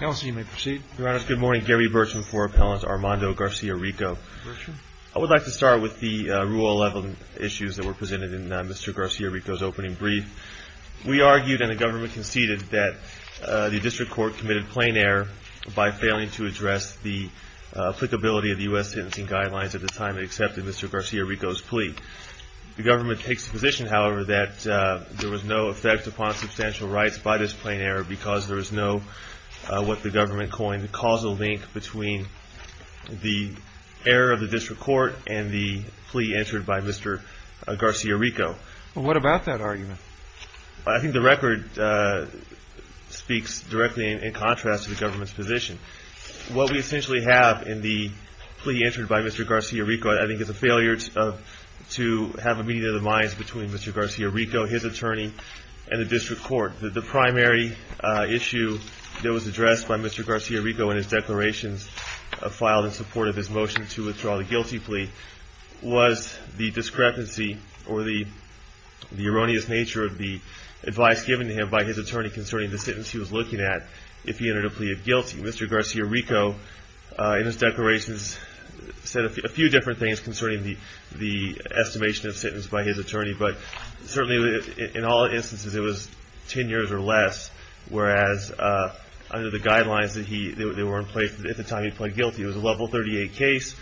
Good morning, Gary Burcham for Appellant Armando Garcia Rico. I would like to start with the Rule 11 issues that were presented in Mr. Garcia Rico's opening brief. We argued and the government conceded that the District Court committed plain error by failing to address the applicability of the U.S. Sentencing Guidelines at the time it accepted Mr. Garcia Rico's plea. The government takes the position, however, that there was no effect upon substantial rights by this plain error because there was no, what the government coined, causal link between the error of the District Court and the plea entered by Mr. Garcia Rico. What about that argument? I think the record speaks directly in contrast to the government's position. What we essentially have in the plea entered by Mr. Garcia Rico I think is a failure to have a meeting of minds between Mr. Garcia Rico, his attorney, and the District Court. The primary issue that was addressed by Mr. Garcia Rico in his declarations filed in support of his motion to withdraw the guilty plea was the discrepancy or the erroneous nature of the advice given to him by his attorney concerning the sentence he was looking at if he entered a plea of guilty. Mr. Garcia Rico in his declarations said a few different things concerning the plea of his attorney, but certainly in all instances it was 10 years or less, whereas under the guidelines that were in place at the time he pled guilty, it was a level 38 case,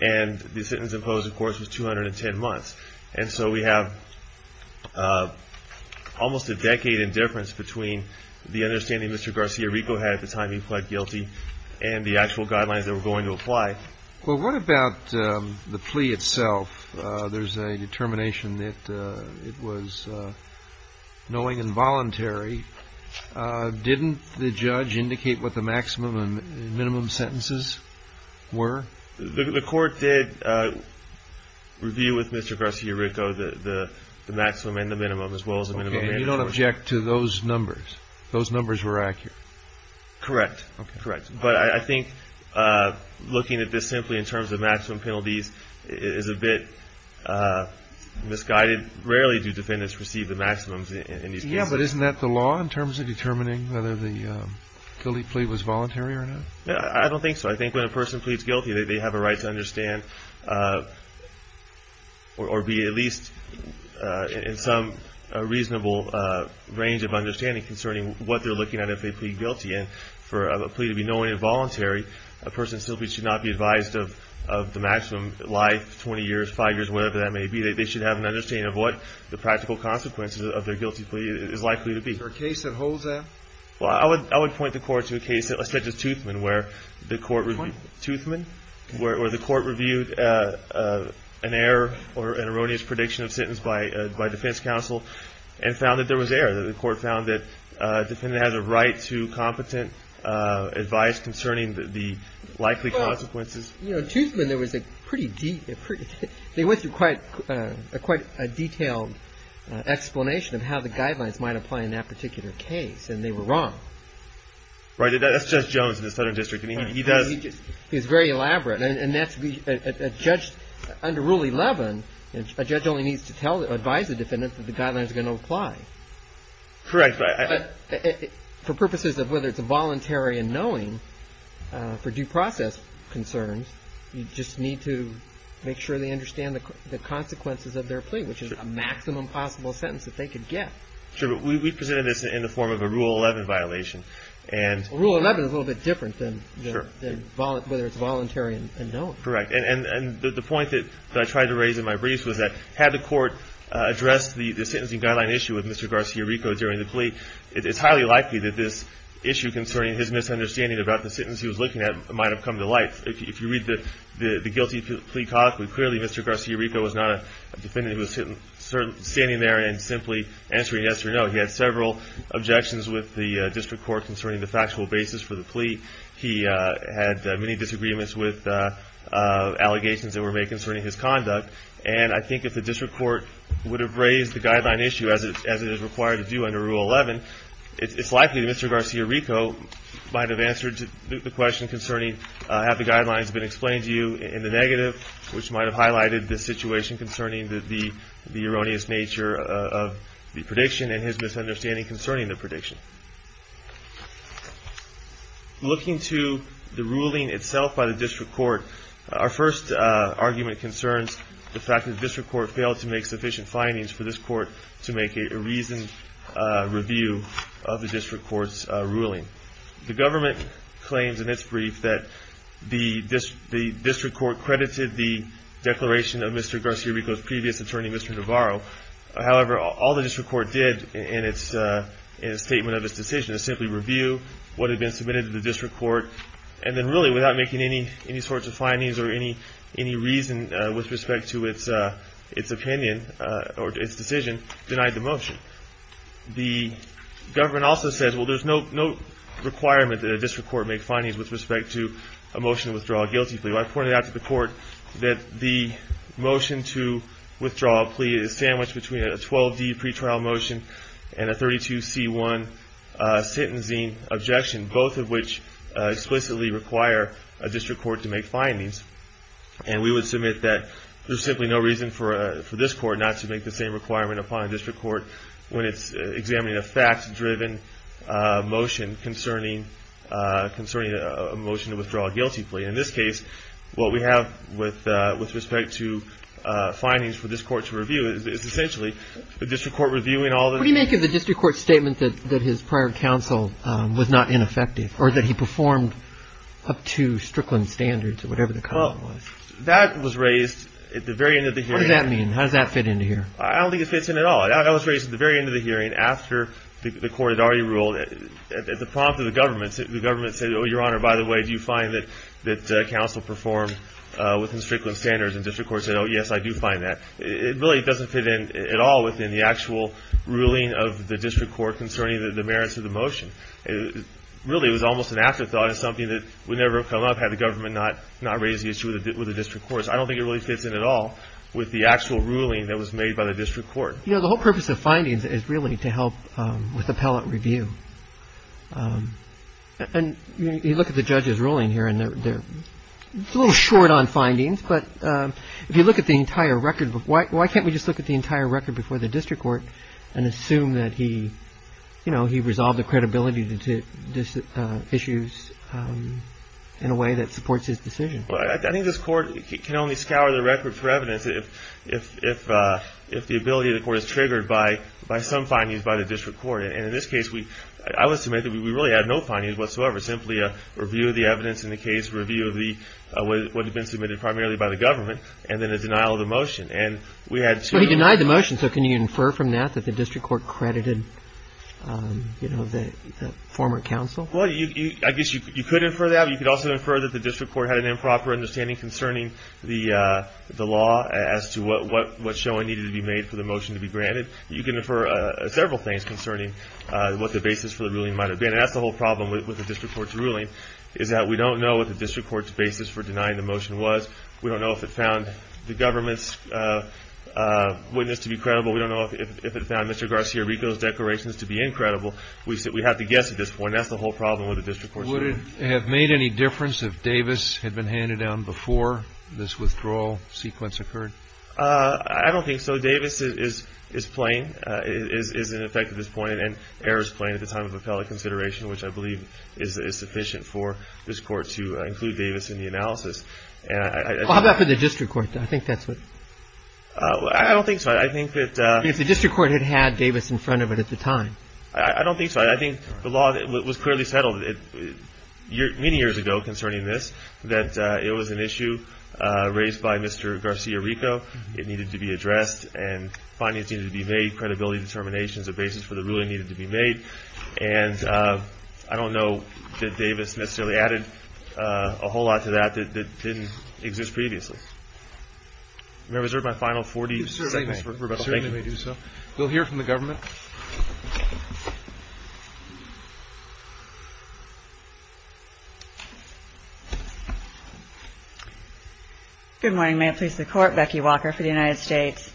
and the sentence imposed, of course, was 210 months. And so we have almost a decade in difference between the understanding Mr. Garcia Rico had at the time he pled guilty Well what about the plea itself? There's a determination that it was knowing and voluntary. Didn't the judge indicate what the maximum and minimum sentences were? The court did review with Mr. Garcia Rico the maximum and the minimum as well as the minimum mandatory. Okay, and you don't object to those numbers? Those numbers were accurate? Correct, but I think looking at this simply in terms of maximum penalties is a bit misguided. Rarely do defendants receive the maximums in these cases. Yeah, but isn't that the law in terms of determining whether the guilty plea was voluntary or not? I don't think so. I think when a person pleads guilty they have a right to understand or be at least in some reasonable range of understanding concerning what they're looking at if they plead guilty. And for a plea to be knowing and voluntary, a person simply should not be advised of the maximum life, 20 years, 5 years, whatever that may be. They should have an understanding of what the practical consequences of their guilty plea is likely to be. Is there a case that holds that? Well, I would point the court to a case such as Toothman where the court reviewed an error or an erroneous prediction of sentence by defense counsel and found that there was error. The court found that a defendant has a right to competent advice concerning the likely consequences. Well, you know, Toothman, there was a pretty deep, they went through quite a detailed explanation of how the guidelines might apply in that particular case, and they were wrong. Right, that's Judge Jones in the Southern District, and he does... He's very elaborate, and that's a judge under Rule 11, a judge only needs to advise the case to apply. Correct, but I... For purposes of whether it's voluntary and knowing, for due process concerns, you just need to make sure they understand the consequences of their plea, which is a maximum possible sentence that they could get. Sure, but we presented this in the form of a Rule 11 violation, and... Rule 11 is a little bit different than whether it's voluntary and knowing. Correct, and the point that I tried to raise in my briefs was that had the court addressed the sentencing guideline issue with Mr. Garcia Rico during the plea, it's highly likely that this issue concerning his misunderstanding about the sentence he was looking at might have come to light. If you read the guilty plea codicle, clearly Mr. Garcia Rico was not a defendant who was standing there and simply answering yes or no. He had several objections with the district court concerning the factual basis for the plea. He had many disagreements with allegations that were made concerning his conduct, and I think if the district court would have raised the guideline issue as it is required to do under Rule 11, it's likely that Mr. Garcia Rico might have answered the question concerning have the guidelines been explained to you in the negative, which might have highlighted the situation concerning the erroneous nature of the prediction and his misunderstanding concerning the prediction. Looking to the ruling itself by the district court, our first argument concerns the fact that the district court failed to make sufficient findings for this court to make a reasoned review of the district court's ruling. The government claims in its brief that the district court credited the declaration of Mr. Garcia Rico's previous attorney, Mr. Navarro. However, all the district court did in its statement of its decision is simply review what had been submitted to the district court, and then really without making any sorts of its opinion or its decision, denied the motion. The government also says, well, there's no requirement that a district court make findings with respect to a motion to withdraw a guilty plea. I pointed out to the court that the motion to withdraw a plea is sandwiched between a 12D pretrial motion and a 32C1 sentencing objection, both of which explicitly require a district court to make findings. And we would submit that there's simply no reason for this court not to make the same requirement upon a district court when it's examining a fact-driven motion concerning a motion to withdraw a guilty plea. In this case, what we have with respect to findings for this court to review is essentially the district court reviewing all the- What do you make of the district court's statement that his prior counsel was not ineffective, or that he performed up to Strickland standards, or whatever the comment was? That was raised at the very end of the hearing. What does that mean? How does that fit into here? I don't think it fits in at all. That was raised at the very end of the hearing after the court had already ruled. At the prompt of the government, the government said, oh, Your Honor, by the way, do you find that counsel performed within Strickland standards, and the district court said, oh, yes, I do find that. It really doesn't fit in at all within the actual ruling of the district court concerning the merits of the motion. Really, it was almost an afterthought. It's something that would never have come up had the government not raised the issue with the district courts. I don't think it really fits in at all with the actual ruling that was made by the district court. You know, the whole purpose of findings is really to help with appellate review. And you look at the judge's ruling here, and they're a little short on findings, but if you look at the entire record, why can't we just look at the entire record before the district court and assume that he, you know, he resolved the credibility issues in a way that supports his decision? I think this court can only scour the record for evidence if the ability of the court is triggered by some findings by the district court. And in this case, I would submit that we really had no findings whatsoever, simply a review of the evidence in the case, review of what had been submitted primarily by the government, and then a denial of the motion. So he denied the motion, so can you infer from that that the district court credited, you know, the former counsel? Well, I guess you could infer that, but you could also infer that the district court had an improper understanding concerning the law as to what showing needed to be made for the motion to be granted. You can infer several things concerning what the basis for the ruling might have been. And that's the whole problem with the district court's ruling, is that we don't know what the district court's basis for denying the motion was. We don't know if it found the government's witness to be credible. We don't know if it found Mr. Garcia-Rico's declarations to be incredible. We have to guess at this point. That's the whole problem with the district court's ruling. Would it have made any difference if Davis had been handed down before this withdrawal sequence occurred? I don't think so. Davis is plain, is in effect at this point, and errors plain at the time of appellate consideration, which I believe is sufficient for this court to include Davis in the analysis. How about for the district court? I think that's what... I don't think so. I think that... If the district court had had Davis in front of it at the time. I don't think so. I think the law was clearly settled many years ago concerning this, that it was an issue raised by Mr. Garcia-Rico. It needed to be addressed, and financing needed to be made, credibility determinations, a basis for the ruling needed to be made. And I don't know that Davis necessarily added a whole lot to that that didn't exist previously. May I reserve my final 40 seconds? You certainly may. Thank you. You certainly may do so. We'll hear from the government. Good morning. May it please the Court. Becky Walker for the United States.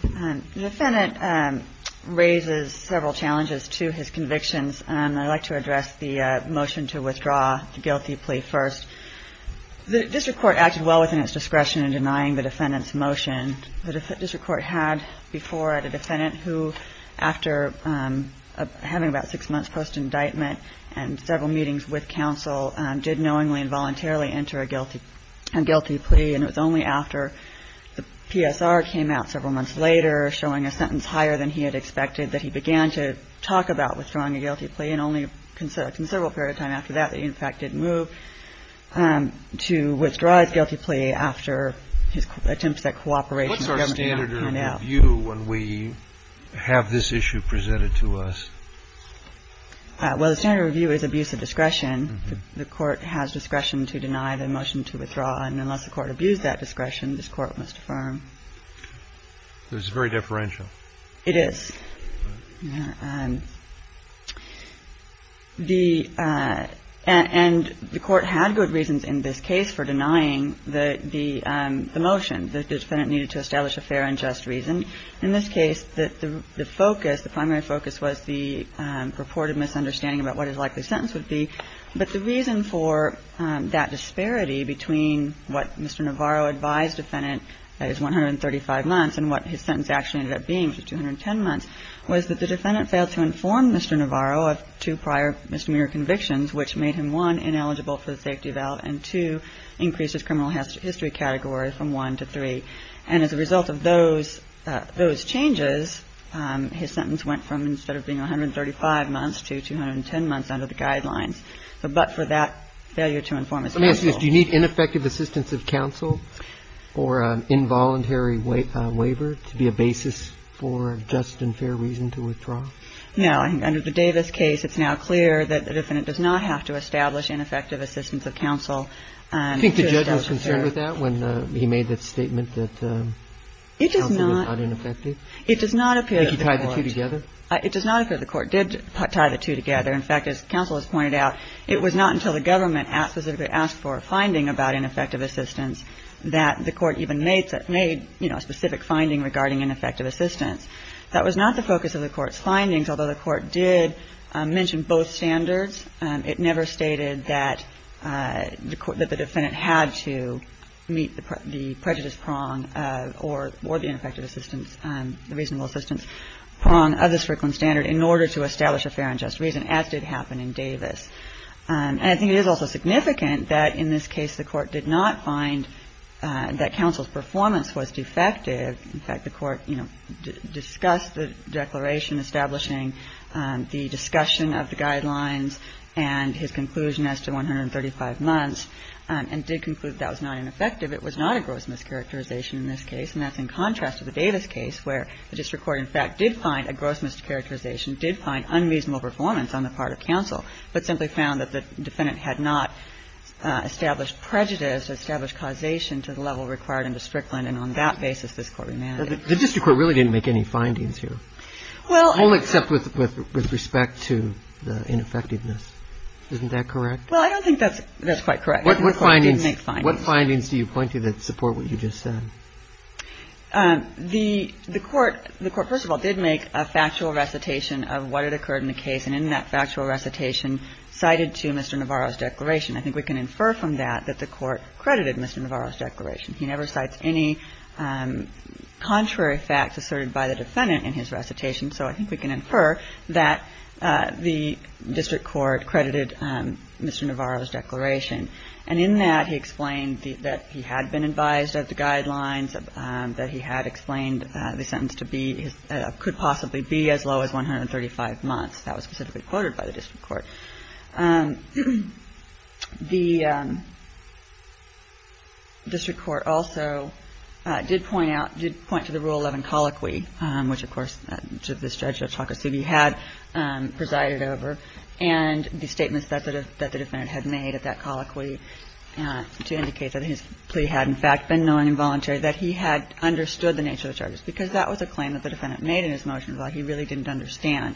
The defendant raises several challenges to his convictions, and I'd like to address the motion to withdraw the guilty plea first. The district court acted well within its discretion in denying the defendant's motion. The district court had before had a defendant who, after having about six months post-indictment and several meetings with counsel, did knowingly and voluntarily enter a guilty plea, and it was only after the PSR came out several months later, showing a sentence higher than he had expected, that he began to talk about withdrawing a guilty plea, and only a considerable period of time after that that he, in fact, did move to withdraw his guilty plea after his attempts at cooperation with the government came out. What's our standard of review when we have this issue presented to us? Well, the standard of review is abuse of discretion. The Court has discretion to deny the motion to withdraw. And unless the Court abused that discretion, this Court must affirm. So it's very differential. It is. And the Court had good reasons in this case for denying the motion. The defendant needed to establish a fair and just reason. In this case, the focus, the primary focus was the purported misunderstanding about what his likely sentence would be. But the reason for that disparity between what Mr. Navarro advised the defendant, that is 135 months, and what his sentence actually ended up being, which was 210 months, was that the defendant failed to inform Mr. Navarro of two prior misdemeanor convictions, which made him, one, ineligible for the safety valve, and, two, increased his criminal history category from one to three. And as a result of those changes, his sentence went from, instead of being 135 months, to 210 months under the guidelines. But for that failure to inform his counsel. Let me ask you this. Do you need ineffective assistance of counsel or involuntary waiver to be a basis for just and fair reason to withdraw? No. Under the Davis case, it's now clear that the defendant does not have to establish ineffective assistance of counsel. Do you think the judge was concerned with that when he made that statement that counsel was not ineffective? It does not appear. Did he tie the two together? It does not appear the court did tie the two together. In fact, as counsel has pointed out, it was not until the government specifically asked for a finding about ineffective assistance that the court even made, you know, a specific finding regarding ineffective assistance. That was not the focus of the court's findings, although the court did mention both standards. It never stated that the defendant had to meet the prejudice prong or the ineffective assistance, the reasonable assistance prong of the Strickland standard in order to establish a fair and just reason, as did happen in Davis. And I think it is also significant that in this case the court did not find that counsel's performance was defective. In fact, the court, you know, discussed the declaration establishing the discussion of the guidelines and his conclusion as to 135 months and did conclude that was not ineffective. It was not a gross mischaracterization in this case, and that's in contrast to the Davis case where the district court, in fact, did find a gross mischaracterization, did find unreasonable performance on the part of counsel, but simply found that the defendant had not established prejudice, established causation to the level required in the Strickland, and on that basis this court remanded. The district court really didn't make any findings here. Well. Only except with respect to the ineffectiveness. Isn't that correct? Well, I don't think that's quite correct. What findings do you point to that support what you just said? The court, first of all, did make a factual recitation of what had occurred in the case, and in that factual recitation cited to Mr. Navarro's declaration. He never cites any contrary facts asserted by the defendant in his recitation, so I think we can infer that the district court credited Mr. Navarro's declaration, and in that he explained that he had been advised of the guidelines, that he had explained the sentence to be, could possibly be as low as 135 months. That was specifically quoted by the district court. The district court also did point out, did point to the Rule 11 colloquy, which, of course, the judge had presided over, and the statements that the defendant had made at that colloquy to indicate that his plea had, in fact, been non-involuntary, that he had understood the nature of the charges, because that was a claim that the defendant made in his motion, but he really didn't understand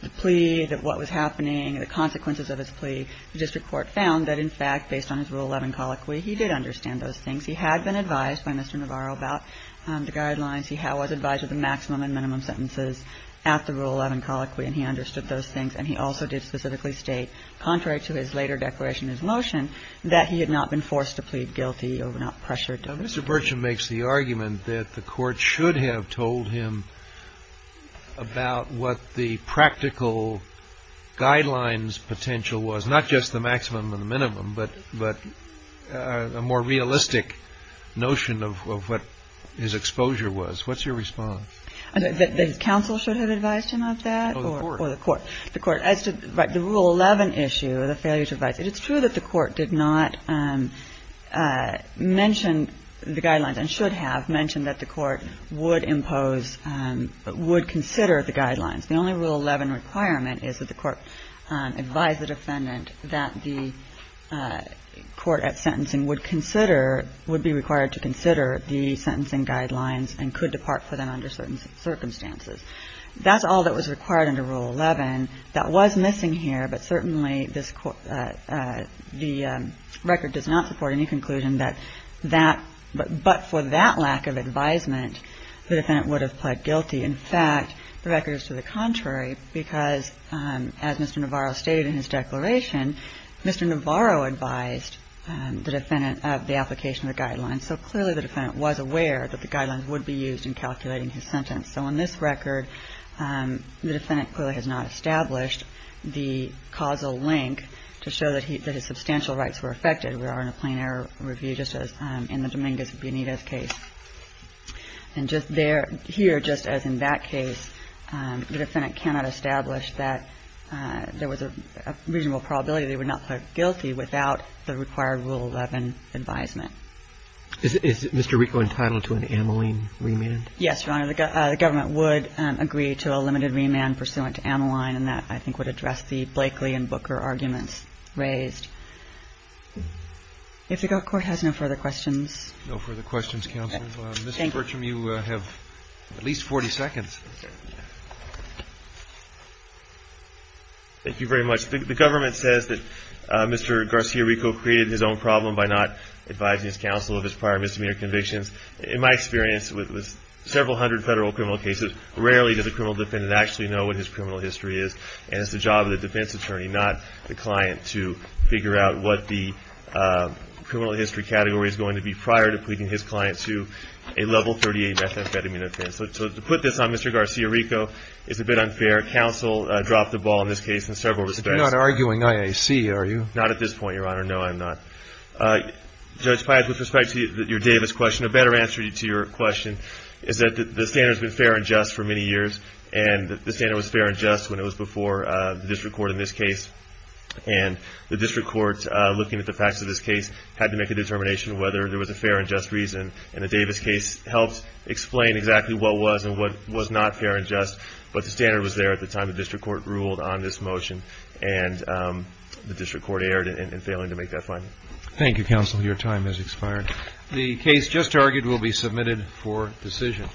the plea, that what was happening, the consequences of his plea, the district court found that, in fact, based on his Rule 11 colloquy, he did understand those things. He had been advised by Mr. Navarro about the guidelines. He was advised of the maximum and minimum sentences at the Rule 11 colloquy, and he understood those things, and he also did specifically state, contrary to his later declaration in his motion, that he had not been forced to plead guilty or not pressured to. Mr. Burcham makes the argument that the court should have told him about what the practical guidelines potential was, not just the maximum and the minimum, but a more realistic notion of what his exposure was. What's your response? The counsel should have advised him of that? Or the court? The court. As to the Rule 11 issue, the failure to advise. It's true that the court did not mention the guidelines, and should have mentioned that the court would impose, would consider the guidelines. The only Rule 11 requirement is that the court advise the defendant that the court at sentencing would consider, would be required to consider the sentencing guidelines and could depart for them under certain circumstances. That's all that was required under Rule 11. That was missing here, but certainly the record does not support any conclusion that that, but for that lack of advisement, the defendant would have pled guilty. In fact, the record is to the contrary, because as Mr. Navarro stated in his declaration, Mr. Navarro advised the defendant of the application of the guidelines. So clearly the defendant was aware that the guidelines would be used in calculating his sentence. So in this record, the defendant clearly has not established the causal link to show that his substantial rights were affected. We are in a plain error review, just as in the Dominguez-Bienito case. And just there, here, just as in that case, the defendant cannot establish that there was a reasonable probability that he would not pled guilty without the required Rule 11 advisement. Is Mr. Rico entitled to an amylene remand? Yes, Your Honor. The government would agree to a limited remand pursuant to amylene, and that I think would address the Blakely and Booker arguments raised. If the Court has no further questions. No further questions, counsel. Thank you. Mr. Bertram, you have at least 40 seconds. Thank you very much. The government says that Mr. Garcia Rico created his own problem by not advising his counsel of his prior misdemeanor convictions. In my experience with several hundred federal criminal cases, rarely does a criminal defendant actually know what his criminal history is. And it's the job of the defense attorney, not the client, to figure out what the criminal history category is going to be prior to pleading his client to a Level 38 methamphetamine offense. So to put this on Mr. Garcia Rico is a bit unfair. Counsel dropped the ball in this case in several respects. You're not arguing IAC, are you? Not at this point, Your Honor. No, I'm not. Judge Pyatt, with respect to your Davis question, a better answer to your question is that the standard has been fair and just for many years. And the standard was fair and just when it was before the district court in this case. And the district court, looking at the facts of this case, had to make a determination whether there was a fair and just reason. And the Davis case helped explain exactly what was and what was not fair and just. But the standard was there at the time the district court ruled on this motion. And the district court erred in failing to make that finding. Thank you, Counsel. Your time has expired. The case just argued will be submitted for decision.